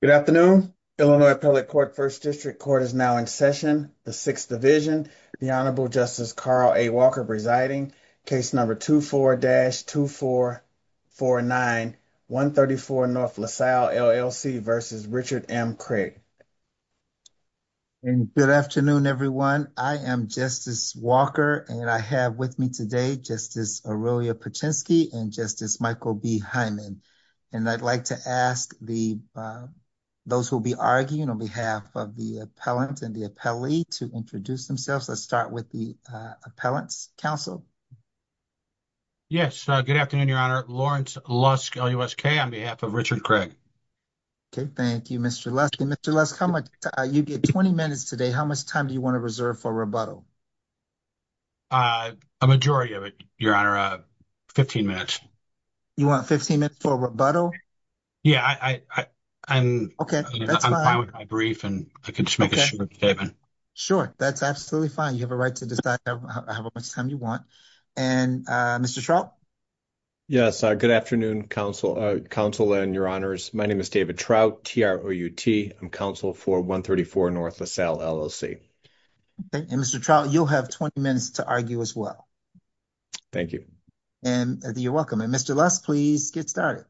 Good afternoon. Illinois Appellate Court 1st District Court is now in session. The 6th Division, the Honorable Justice Carl A. Walker presiding, case number 24-2449, 134 N. LaSalle, LLC v. Richard M. Craig. Good afternoon, everyone. I am Justice Walker and I have with me today, Justice Aurelia Paczynski and Justice Michael B. Hyman. And I'd like to ask those who will be arguing on behalf of the appellant and the appellee to introduce themselves. Let's start with the appellant's counsel. Yes, good afternoon, Your Honor. Lawrence Lusk, L.U.S.K. on behalf of Richard Craig. Okay, thank you, Mr. Lusk. Mr. Lusk, you get 20 minutes today. How much time do you want to reserve for rebuttal? A majority of it, Your Honor. 15 minutes. You want 15 minutes for rebuttal? Yeah, I'm fine with my brief and I can just make a short statement. Sure, that's absolutely fine. You have a right to decide how much time you want. And Mr. Trout? Yes, good afternoon, counsel and Your Honors. My name is David Trout, T-R-O-U-T. I'm counsel for 134 N. LaSalle, LLC. And Mr. Trout, you'll have 20 minutes to argue as well. Thank you. And you're welcome. And Mr. Lusk, please get started.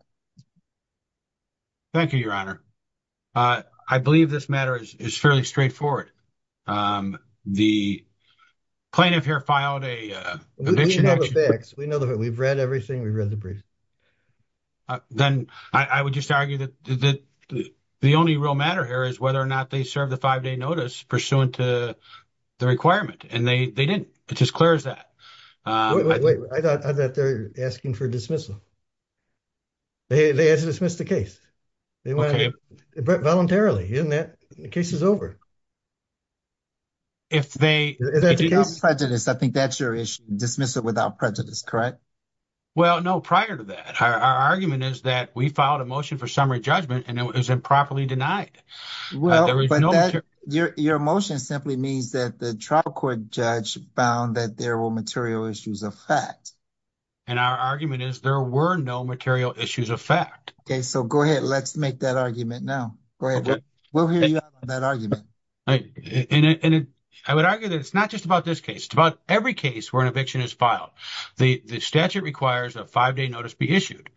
Thank you, Your Honor. I believe this matter is fairly straightforward. The plaintiff here filed a conviction action. We know the facts. We know the facts. We've read everything. We've read the brief. Then I would just argue that the only real matter here is whether or not they serve the 5-day notice pursuant to the requirement. And they didn't. It's as clear as that. Wait, wait, wait. I thought they were asking for dismissal. They asked to dismiss the case. Okay. Voluntarily, isn't that? The case is over. If they... If that's a case without prejudice, I think that's your issue. Dismiss it without prejudice, correct? Well, no, prior to that, our argument is that we filed a motion for summary judgment and it was improperly denied. Well, your motion simply means that the trial court judge found that there were material issues of fact. And our argument is there were no material issues of fact. Okay. So go ahead. Let's make that argument now. Go ahead. We'll hear you out on that argument. And I would argue that it's not just about this case. It's about every case where an eviction is filed. The statute requires a 5-day notice be issued.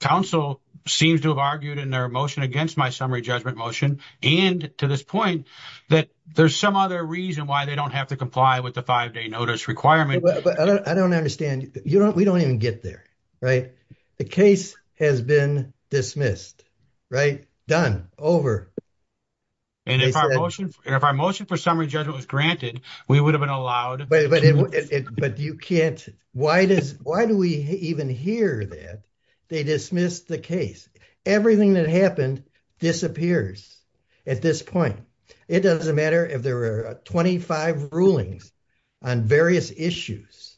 Council seems to have argued in their motion against my summary judgment motion. And to this point, that there's some other reason why they don't have to comply with the 5-day notice requirement. But I don't understand. We don't even get there, right? The case has been dismissed, right? Done. Over. And if our motion for summary judgment was granted, we would have been allowed. But you can't. Why do we even hear that they dismissed the case? Everything that happened disappears at this point. It doesn't matter if there are 25 rulings on various issues.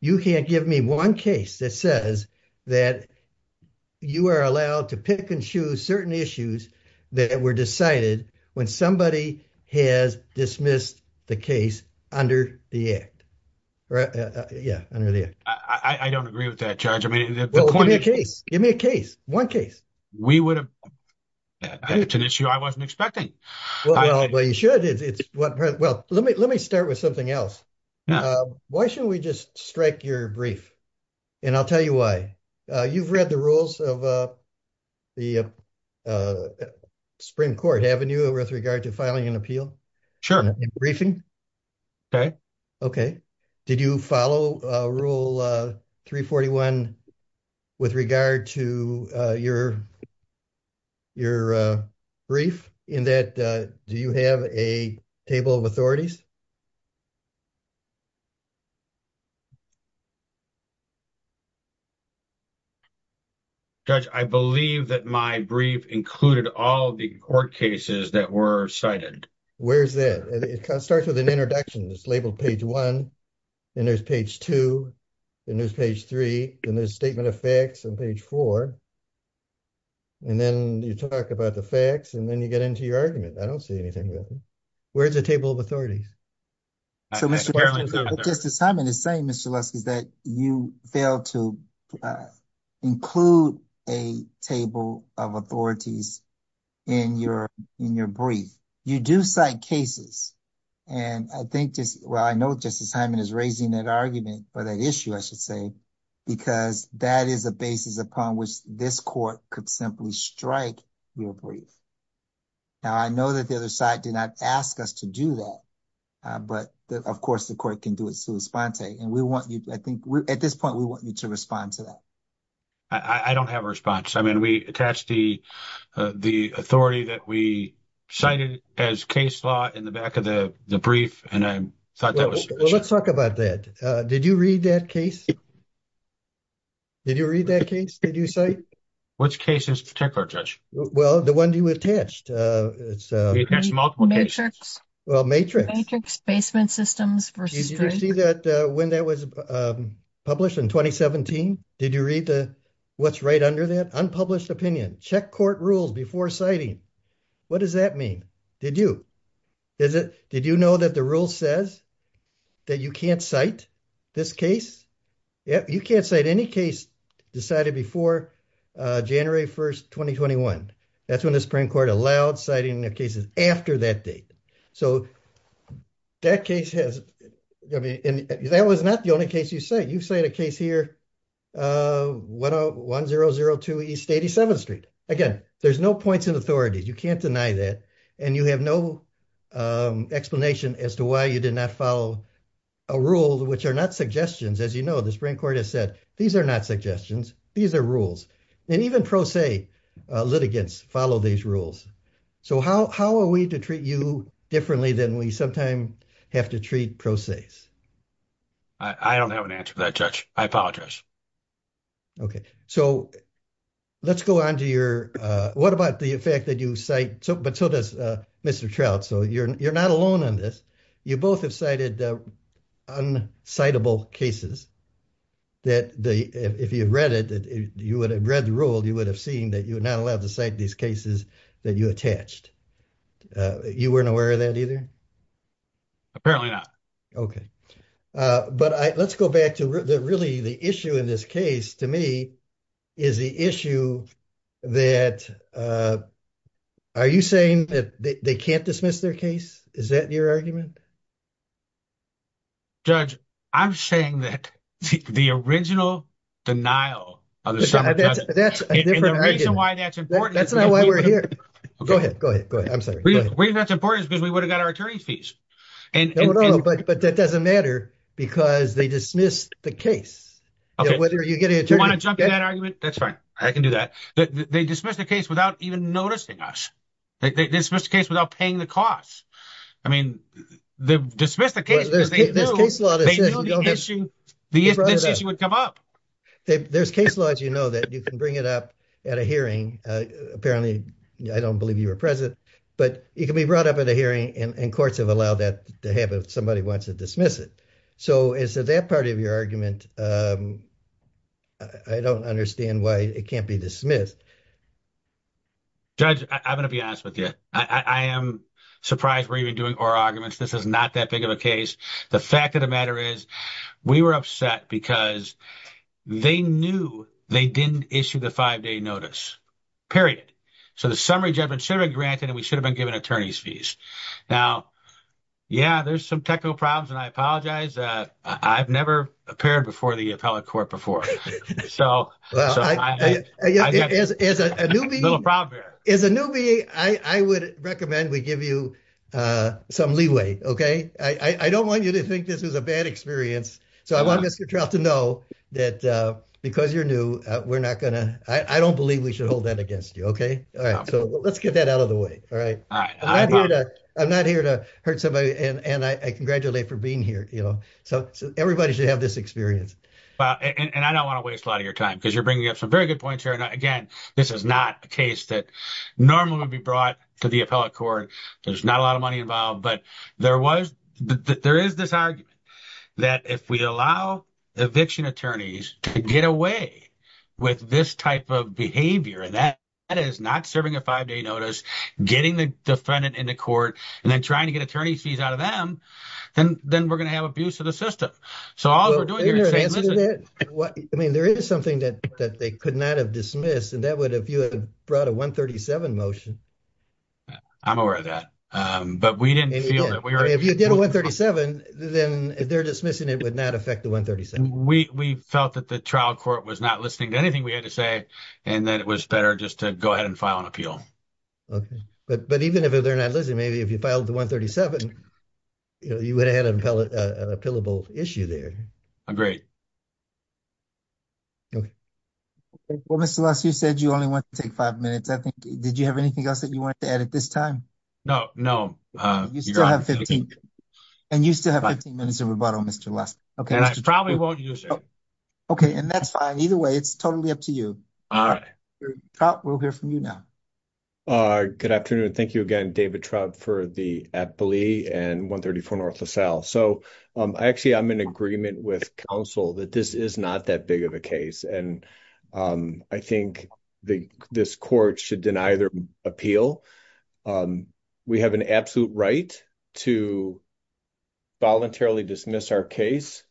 You can't give me one case that says that you are allowed to pick and choose certain issues that were decided when somebody has dismissed the case under the act, right? Yeah. I don't agree with that charge. I mean, give me a case. Give me a case. One case. We would have. It's an issue I wasn't expecting. Well, you should. Well, let me start with something else. Why shouldn't we just strike your brief? And I'll tell you why. You've read the rules of the Supreme Court, haven't you? With regard to filing an appeal. Sure. Briefing. Okay. Okay. Did you follow rule 341 with regard to your brief in that? Do you have a table of authorities? Judge, I believe that my brief included all the court cases that were cited. Where's that? It starts with an introduction. It's labeled page one, and there's page two, and there's page three, and there's statement of facts on page four. And then you talk about the facts, and then you get into your argument. I don't see anything. Where's the table of authorities? Justice Hyman is saying, Mr. Lusky, that you failed to include a table of authorities in your brief. You do cite cases. And I think, well, I know Justice Hyman is raising that argument or that issue, I should say, because that is a basis upon which this court could simply strike your brief. Now, I know that the other side did not ask us to do that, but of course, the court can do it sui sponte. And we want you, I think, at this point, we want you to respond to that. I don't have a response. I mean, we attached the authority that we cited as case law in the back of the brief, and I thought that was- Let's talk about that. Did you read that case? Did you read that case that you cite? Which case in particular, Judge? Well, the one you attached. It's- We attached multiple cases. Well, matrix. Matrix, basement systems versus- Did you see that when that was published in 2017? Did you read what's right under that? Unpublished opinion. Check court rules before citing. What does that mean? Did you? Did you know that the rule says? That you can't cite this case. You can't cite any case decided before January 1st, 2021. That's when the Supreme Court allowed citing the cases after that date. So, that case has- That was not the only case you cite. You cite a case here, 1002 East 87th Street. Again, there's no points in authority. You can't deny that. And you have no explanation as to why you did not follow a rule, which are not suggestions. As you know, the Supreme Court has said, these are not suggestions. These are rules. And even pro se litigants follow these rules. So, how are we to treat you differently than we sometimes have to treat pro ses? I don't have an answer to that, Judge. I apologize. Okay. So, let's go on to your- What about the fact that you cite- But so does Mr. Trout. So, you're not alone on this. You both have cited un-citable cases that, if you've read it, you would have read the rule, you would have seen that you're not allowed to cite these cases that you attached. You weren't aware of that either? Apparently not. Okay. But let's go back to really the issue in this case, to me, is the issue that- Are you saying that they can't dismiss their case? Is that your argument? Judge, I'm saying that the original denial of the- That's a different argument. And the reason why that's important- That's not why we're here. Go ahead. Go ahead. Go ahead. I'm sorry. The reason that's important is because we would have got our attorney's fees. No, no, no. But that doesn't matter because they dismissed the case. Whether you get an attorney- Do you want to jump in that argument? That's fine. I can do that. They dismissed the case without even noticing us. They dismissed the case without paying the cost. I mean, they've dismissed the case because they knew the issue would come up. There's case laws, you know, that you can bring it up at a hearing. Apparently, I don't believe you were present, but it can be brought up at a hearing and courts have allowed that to happen if somebody wants to dismiss it. So is that part of your argument? I don't understand why it can't be dismissed. Judge, I'm going to be honest with you. I am surprised we're even doing oral arguments. This is not that big of a case. The fact of the matter is we were upset because they knew they didn't issue the five-day notice, period. So the summary judgment should have been granted and we should have been given attorney's fees. Now, yeah, there's some technical problems and I apologize. I've never appeared before the appellate court before. As a newbie, I would recommend we give you some leeway, okay? I don't want you to think this is a bad experience. So I want Mr. Trout to know that because you're new, I don't believe we should hold that against you, okay? All right, so let's get that out of the way, all right? I'm not here to hurt somebody and I congratulate for being here. So everybody should have this experience. And I don't want to waste a lot of your time because you're bringing up some very good points here. And again, this is not a case that normally would be brought to the appellate court. There's not a lot of money involved, but there is this argument that if we allow eviction attorneys to get away with this type of behavior, that is not serving a five-day notice, getting the defendant in the court, and then trying to get attorney fees out of them, then we're going to have abuse of the system. So all we're doing here is saying, listen- Well, isn't there an answer to that? I mean, there is something that they could not have dismissed and that would have, if you had brought a 137 motion. I'm aware of that, but we didn't feel that we were- If you did a 137, then their dismissing it would not affect the 137. We felt that the trial court was not listening to anything we had to say, and that it was better just to go ahead and file an appeal. But even if they're not listening, maybe if you filed the 137, you would have had an appealable issue there. Agreed. Well, Mr. Lusk, you said you only want to take five minutes. I think, did you have anything else that you wanted to add at this time? No, no. You still have 15. And you still have 15 minutes of rebuttal, Mr. Lusk. And I probably won't use it. Okay, and that's fine. Either way, it's totally up to you. We'll hear from you now. Uh, good afternoon. Thank you again, David Traub, for the Eppley and 134 North LaSalle. So, actually, I'm in agreement with counsel that this is not that big of a case. And I think this court should deny their appeal. We have an absolute right to voluntarily dismiss our case.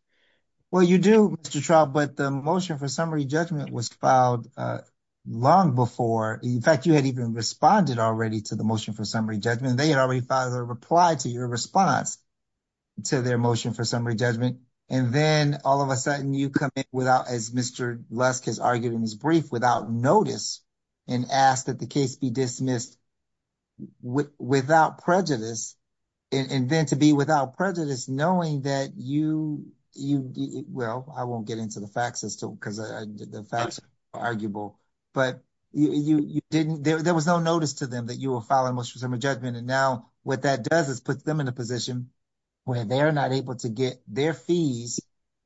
Well, you do, Mr. Traub, but the motion for summary judgment was filed long before. In fact, you had even responded already to the motion for summary judgment. They had already filed a reply to your response to their motion for summary judgment. And then all of a sudden you come in without, as Mr. Lusk has argued in his brief, without notice and ask that the case be dismissed without prejudice. And then to be without prejudice, knowing that you, well, I won't get into the facts because the facts are arguable. But there was no notice to them that you will file a motion for summary judgment. And now what that does is puts them in a position where they're not able to get their fees.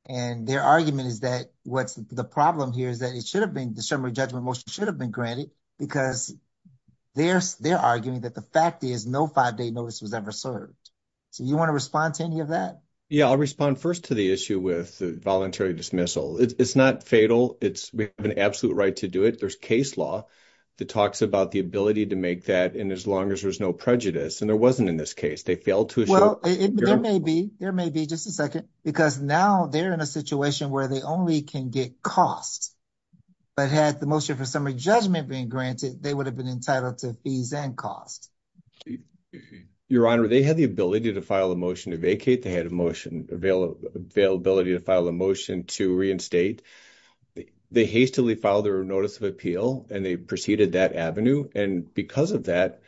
And their argument is that what's the problem here is that it should have been, the summary judgment motion should have been granted because they're arguing that the fact is no five-day notice was ever served. So, you want to respond to any of that? Yeah, I'll respond first to the issue with the voluntary dismissal. It's not fatal. We have an absolute right to do it. There's case law that talks about the ability to make that and as long as there's no prejudice. And there wasn't in this case. They failed to assure- Well, there may be. There may be, just a second. Because now they're in a situation where they only can get costs. But had the motion for summary judgment been granted, they would have been entitled to fees and costs. Your Honor, they had the ability to file a motion to vacate. They had availability to file a motion to reinstate. They hastily filed their notice of appeal and they proceeded that avenue. And because of that,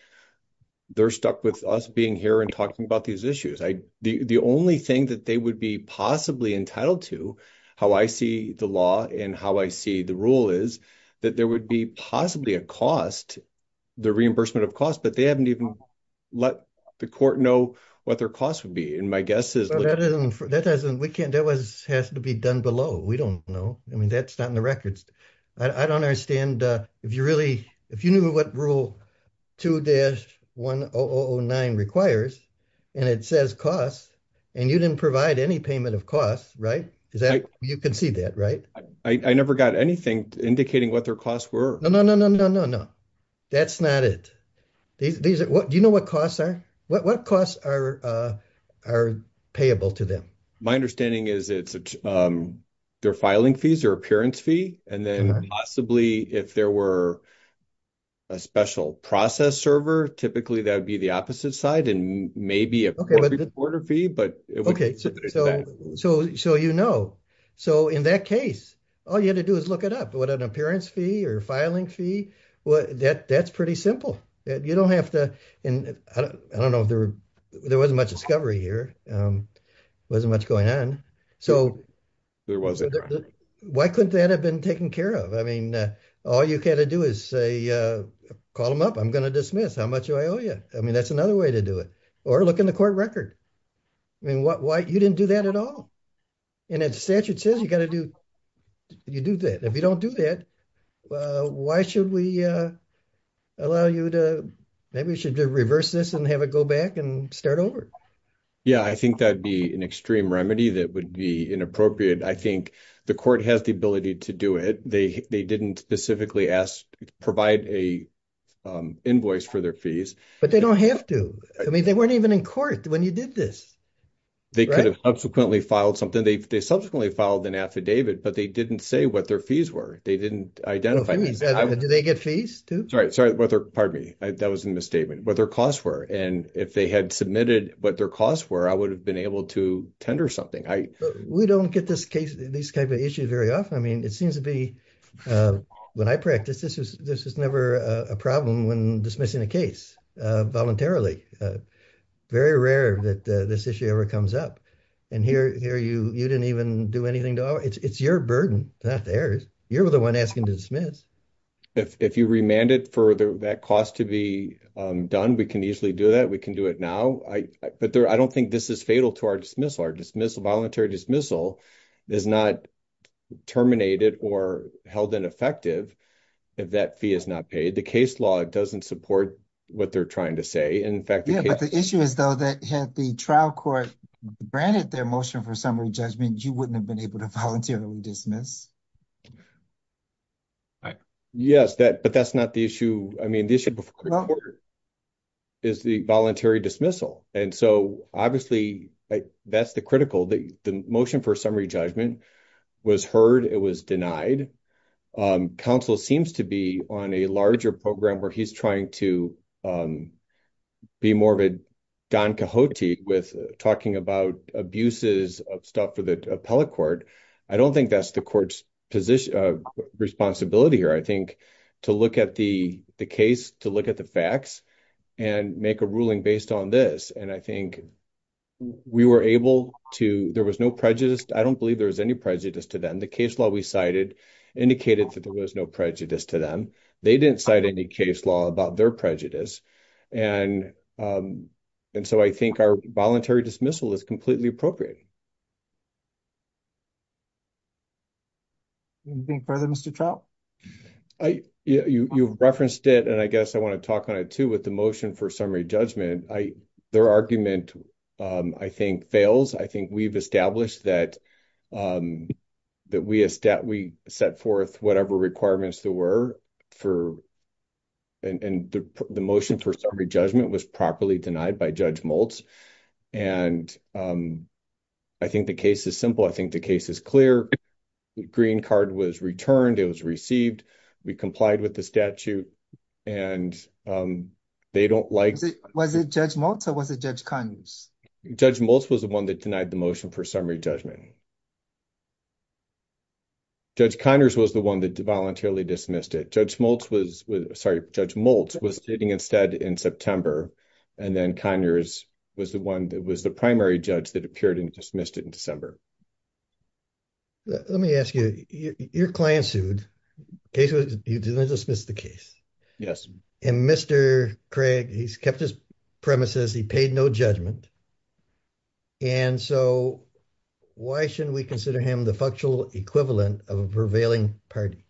they're stuck with us being here and talking about these issues. The only thing that they would be possibly entitled to, how I see the law and how I see the rule is, that there would be possibly a cost, the reimbursement of costs, but they haven't even let the court know what their cost would be. And my guess is- Well, that has to be done below. We don't know. I mean, that's not in the records. I don't understand. If you knew what rule 2-1009 requires and it says costs and you didn't provide any payment of costs, right? You can see that, right? I never got anything indicating what their costs were. No, no, no, no, no, no. That's not it. Do you know what costs are? What costs are payable to them? My understanding is it's their filing fees or appearance fee. And then possibly if there were a special process server, typically that would be the opposite side and maybe a quarter fee, but- Okay, so you know. So in that case, all you had to do is look it up. What, an appearance fee or filing fee? That's pretty simple. You don't have to- And I don't know if there wasn't much discovery here. Wasn't much going on. So- There wasn't. Why couldn't that have been taken care of? I mean, all you got to do is say, call them up. I'm going to dismiss. How much do I owe you? I mean, that's another way to do it. Or look in the court record. I mean, you didn't do that at all. And if statute says you got to do, you do that. If you don't do that, why should we allow you to, maybe we should reverse this and have it go back and start over. Yeah, I think that'd be an extreme remedy that would be inappropriate. I think the court has the ability to do it. They didn't specifically ask, provide a invoice for their fees. But they don't have to. I mean, they weren't even in court when you did this. They could have subsequently filed something. They subsequently filed an affidavit, but they didn't say what their fees were. They didn't identify them. Do they get fees too? Sorry, pardon me. That was a misstatement. What their costs were. And if they had submitted what their costs were, I would have been able to tender something. We don't get this type of issue very often. I mean, it seems to be, when I practice, this was never a problem when dismissing a case voluntarily. Very rare that this issue ever comes up. And here, you didn't even do anything. It's your burden, not theirs. You're the one asking to dismiss. If you remanded for that cost to be done, we can easily do that. We can do it now. I don't think this is fatal to our dismissal. Our voluntary dismissal is not terminated or held ineffective if that fee is not paid. The case law doesn't support what they're trying to say. And in fact, the case- Yeah, but the issue is, though, that had the trial court branded their motion for summary judgment, you wouldn't have been able to voluntarily dismiss. Yes, but that's not the issue. I mean, the issue before the court is the voluntary dismissal. And so, obviously, that's the critical. The motion for summary judgment was heard. It was denied. Counsel seems to be on a larger program where he's trying to be more of a Don Quixote with talking about abuses of stuff for the appellate court. I don't think that's the court's responsibility here. I think to look at the case, to look at the facts and make a ruling based on this. And I think we were able to, there was no prejudice. I don't believe there was any prejudice to them. The case law we cited indicated that there was no prejudice to them. They didn't cite any case law about their prejudice. And so, I think our voluntary dismissal is completely appropriate. Anything further, Mr. Trout? You referenced it, and I guess I want to talk on it too with the motion for summary judgment. Their argument, I think, fails. I think we've established that we set forth whatever requirements there were for, and the motion for summary judgment was properly denied by Judge Maltz. And I think the case is simple. I think the case is clear. The green card was returned. It was received. We complied with the statute and they don't like- Was it Judge Maltz or was it Judge Conners? Judge Maltz was the one that denied the motion for summary judgment. Judge Conners was the one that voluntarily dismissed it. Sorry, Judge Maltz was sitting instead in September, and then Conners was the one that was the primary judge that appeared and dismissed it in December. Let me ask you, your client sued. You didn't dismiss the case? Yes. And Mr. Craig, he's kept his premises. He paid no judgment. And so, why shouldn't we consider him the factual equivalent of a prevailing party?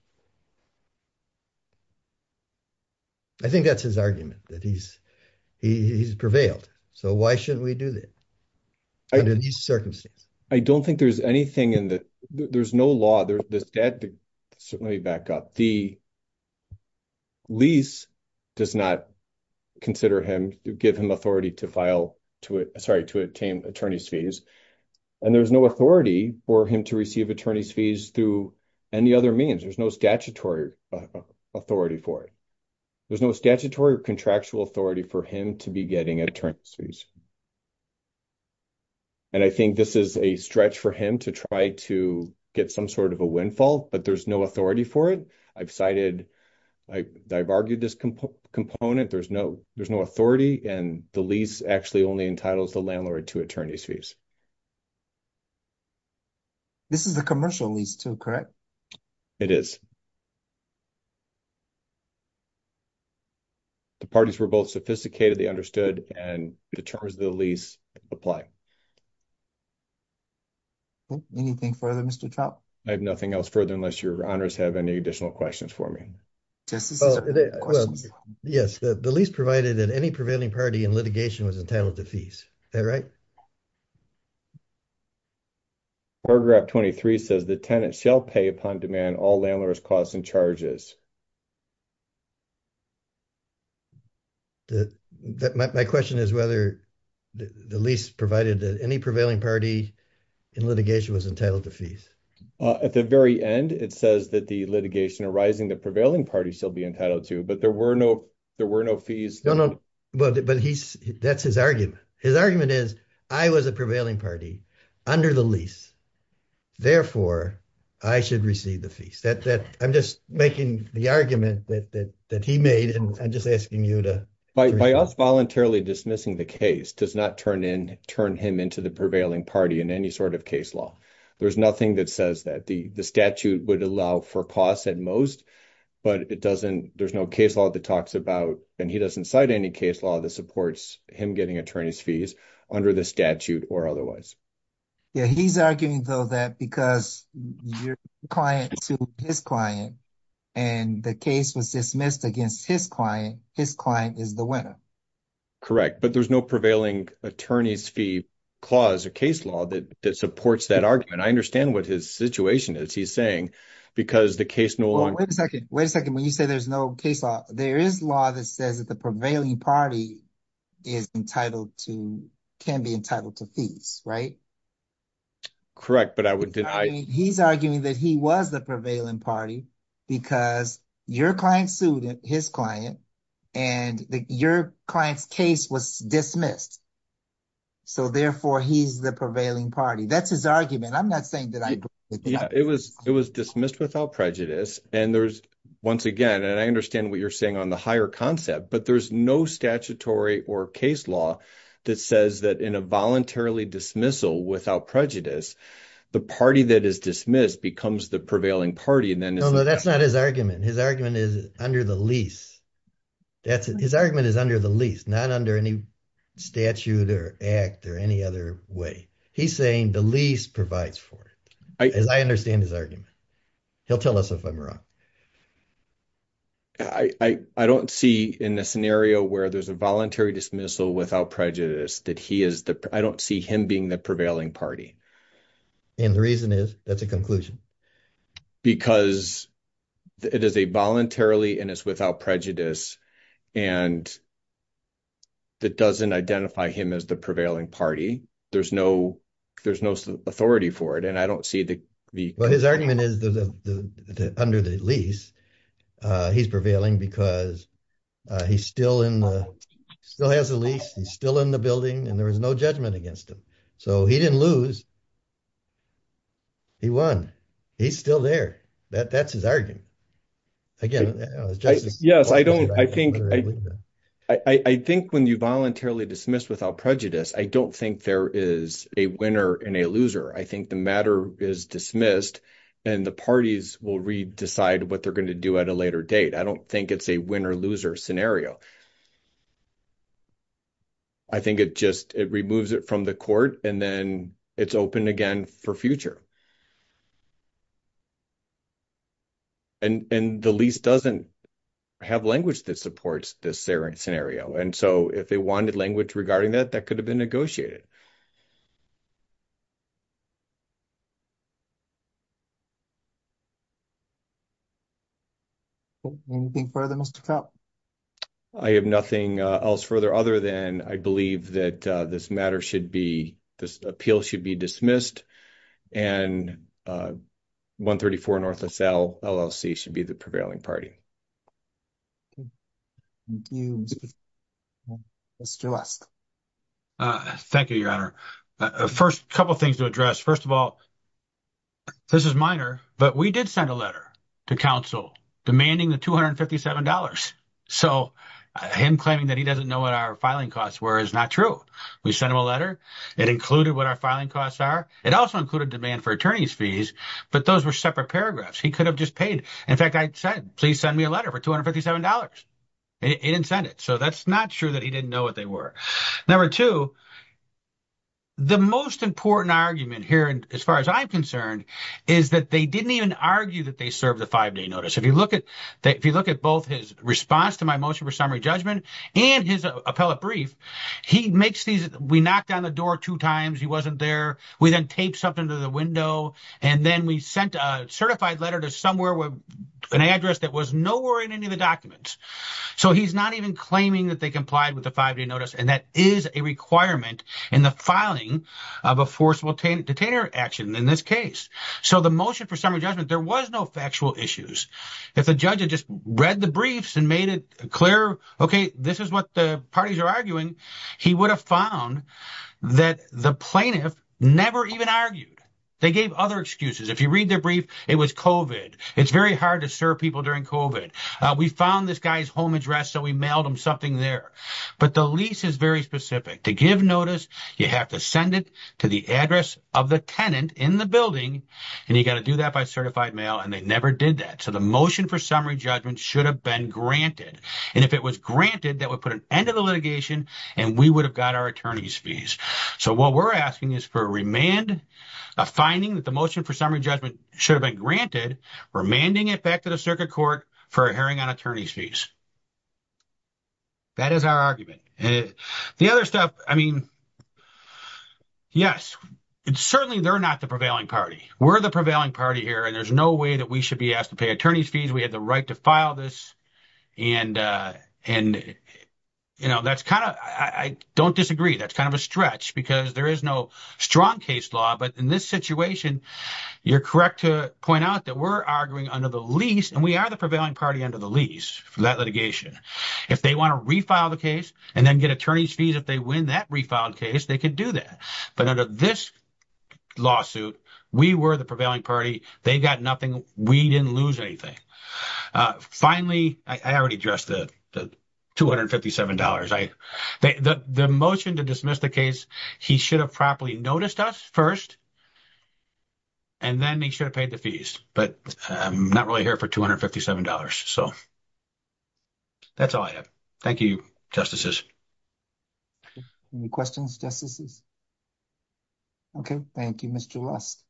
I think that's his argument, that he's prevailed. So why shouldn't we do that under these circumstances? I don't think there's anything in the- There's no law. There's this debt to- So let me back up. The lease does not consider him, give him authority to file to it, sorry, to attain attorney's fees. And there was no authority for him to receive attorney's fees through any other means. There's no statutory authority for it. There's no statutory or contractual authority for him to be getting attorney's fees. And I think this is a stretch for him to try to get some sort of a windfall, but there's no authority for it. I've cited, I've argued this component. There's no authority. And the lease actually only entitles the landlord to attorney's fees. This is a commercial lease too, correct? It is. The parties were both sophisticated, they understood, and the terms of the lease apply. Anything further, Mr. Trout? I have nothing else further, unless your honors have any additional questions for me. Yes, the lease provided that any prevailing party in litigation was entitled to fees, is that right? Paragraph 23 says, the tenant shall pay upon demand all landlord's costs and charges. My question is whether the lease provided that any prevailing party in litigation was entitled to fees. At the very end, it says that the litigation arising, the prevailing party shall be entitled to, but there were no fees. No, no, but that's his argument. His argument is, I was a prevailing party under the lease. Therefore, I should receive the fees. I'm just making the argument that he made, and I'm just asking you to- By us voluntarily dismissing the case does not turn him into the prevailing party in any sort of case law. There's nothing that says that. The statute would allow for costs at most, but there's no case law that talks about, and he doesn't cite any case law that supports him getting attorney's fees under the statute or otherwise. Yeah, he's arguing though that because your client sued his client and the case was dismissed against his client, his client is the winner. Correct, but there's no prevailing attorney's fee clause or case law that supports that argument. I understand what his situation is he's saying because the case no longer- Wait a second, wait a second. When you say there's no case law, there is law that says that the prevailing party is entitled to, can be entitled to fees, right? Correct, but I would deny- He's arguing that he was the prevailing party because your client sued his client and your client's case was dismissed. So therefore, he's the prevailing party. That's his argument. I'm not saying that I agree with him. It was dismissed without prejudice. And there's, once again, and I understand what you're saying on the higher concept, but there's no statutory or case law that says that in a voluntarily dismissal without prejudice, the party that is dismissed becomes the prevailing party and then- No, no, that's not his argument. His argument is under the lease. His argument is under the lease, not under any statute or act or any other way. He's saying the lease provides for it. As I understand his argument. He'll tell us if I'm wrong. I don't see in a scenario where there's a voluntary dismissal without prejudice that he is the, I don't see him being the prevailing party. And the reason is, that's a conclusion. Because it is a voluntarily and it's without prejudice and that doesn't identify him as the prevailing party. There's no authority for it. And I don't see the- Well, his argument is under the lease. He's prevailing because he's still in the, still has a lease, he's still in the building and there was no judgment against him. So he didn't lose, he won. He's still there. That's his argument. Again, I was just- Yes, I think when you voluntarily dismiss without prejudice, I don't think there is a winner and a loser. I think the matter is dismissed and the parties will re-decide what they're gonna do at a later date. I don't think it's a win or loser scenario. I think it just, it removes it from the court and then it's open again for future. And the lease doesn't have language that supports this scenario. And so if they wanted language regarding that, that could have been negotiated. Anything further, Mr. Kopp? I have nothing else further other than I believe that this matter should be, this appeal should be dismissed and 134 North LLC should be the prevailing party. Thank you, Mr. Kopp. Mr. West. Thank you, Your Honor. First, a couple of things to address. First of all, this is minor, but we did send a letter to counsel demanding the $257. So him claiming that he doesn't know what our filing costs were is not true. We sent him a letter. It included what our filing costs are. It also included demand for attorney's fees, but those were separate paragraphs. He could have just paid. In fact, I said, please send me a letter for $257. It didn't send it. So that's not true that he didn't know what they were. Number two, the most important argument here, as far as I'm concerned, is that they didn't even argue that they served the five-day notice. If you look at both his response to my motion for summary judgment and his appellate brief, we knocked on the door two times. He wasn't there. We then taped something to the window. And then we sent a certified letter to somewhere with an address that was nowhere in any of the documents. So he's not even claiming that they complied with the five-day notice. And that is a requirement in the filing of a forcible detainer action in this case. So the motion for summary judgment, there was no factual issues. If the judge had just read the briefs and made it clear, okay, this is what the parties are arguing. He would have found that the plaintiff never even argued. They gave other excuses. If you read their brief, it was COVID. It's very hard to serve people during COVID. We found this guy's home address. So we mailed him something there. But the lease is very specific. To give notice, you have to send it to the address of the tenant in the building. And you got to do that by certified mail. And they never did that. So the motion for summary judgment should have been granted. And if it was granted, that would put an end to the litigation and we would have got our attorney's fees. So what we're asking is for a remand, a finding that the motion for summary judgment should have been granted, remanding it back to the circuit court for a hearing on attorney's fees. That is our argument. The other stuff, I mean, yes. It's certainly they're not the prevailing party. We're the prevailing party here. And there's no way that we should be asked to pay attorney's fees. We had the right to file this. And, you know, that's kind of, I don't disagree. That's kind of a stretch because there is no strong case law. But in this situation, you're correct to point out that we're arguing under the lease and we are the prevailing party under the lease. That litigation. If they want to refile the case and then get attorney's fees, if they win that refiled case, they could do that. But under this lawsuit, we were the prevailing party. They got nothing. We didn't lose anything. Finally, I already addressed the $257. The motion to dismiss the case, he should have properly noticed us first and then they should have paid the fees. But I'm not really here for $257. So that's all I have. Thank you, Justices. Any questions, Justices? Okay. Thank you, Mr. Lust.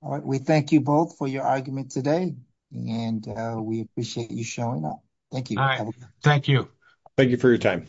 All right. We thank you both for your argument today and we appreciate you showing up. Thank you. Thank you. Thank you for your time.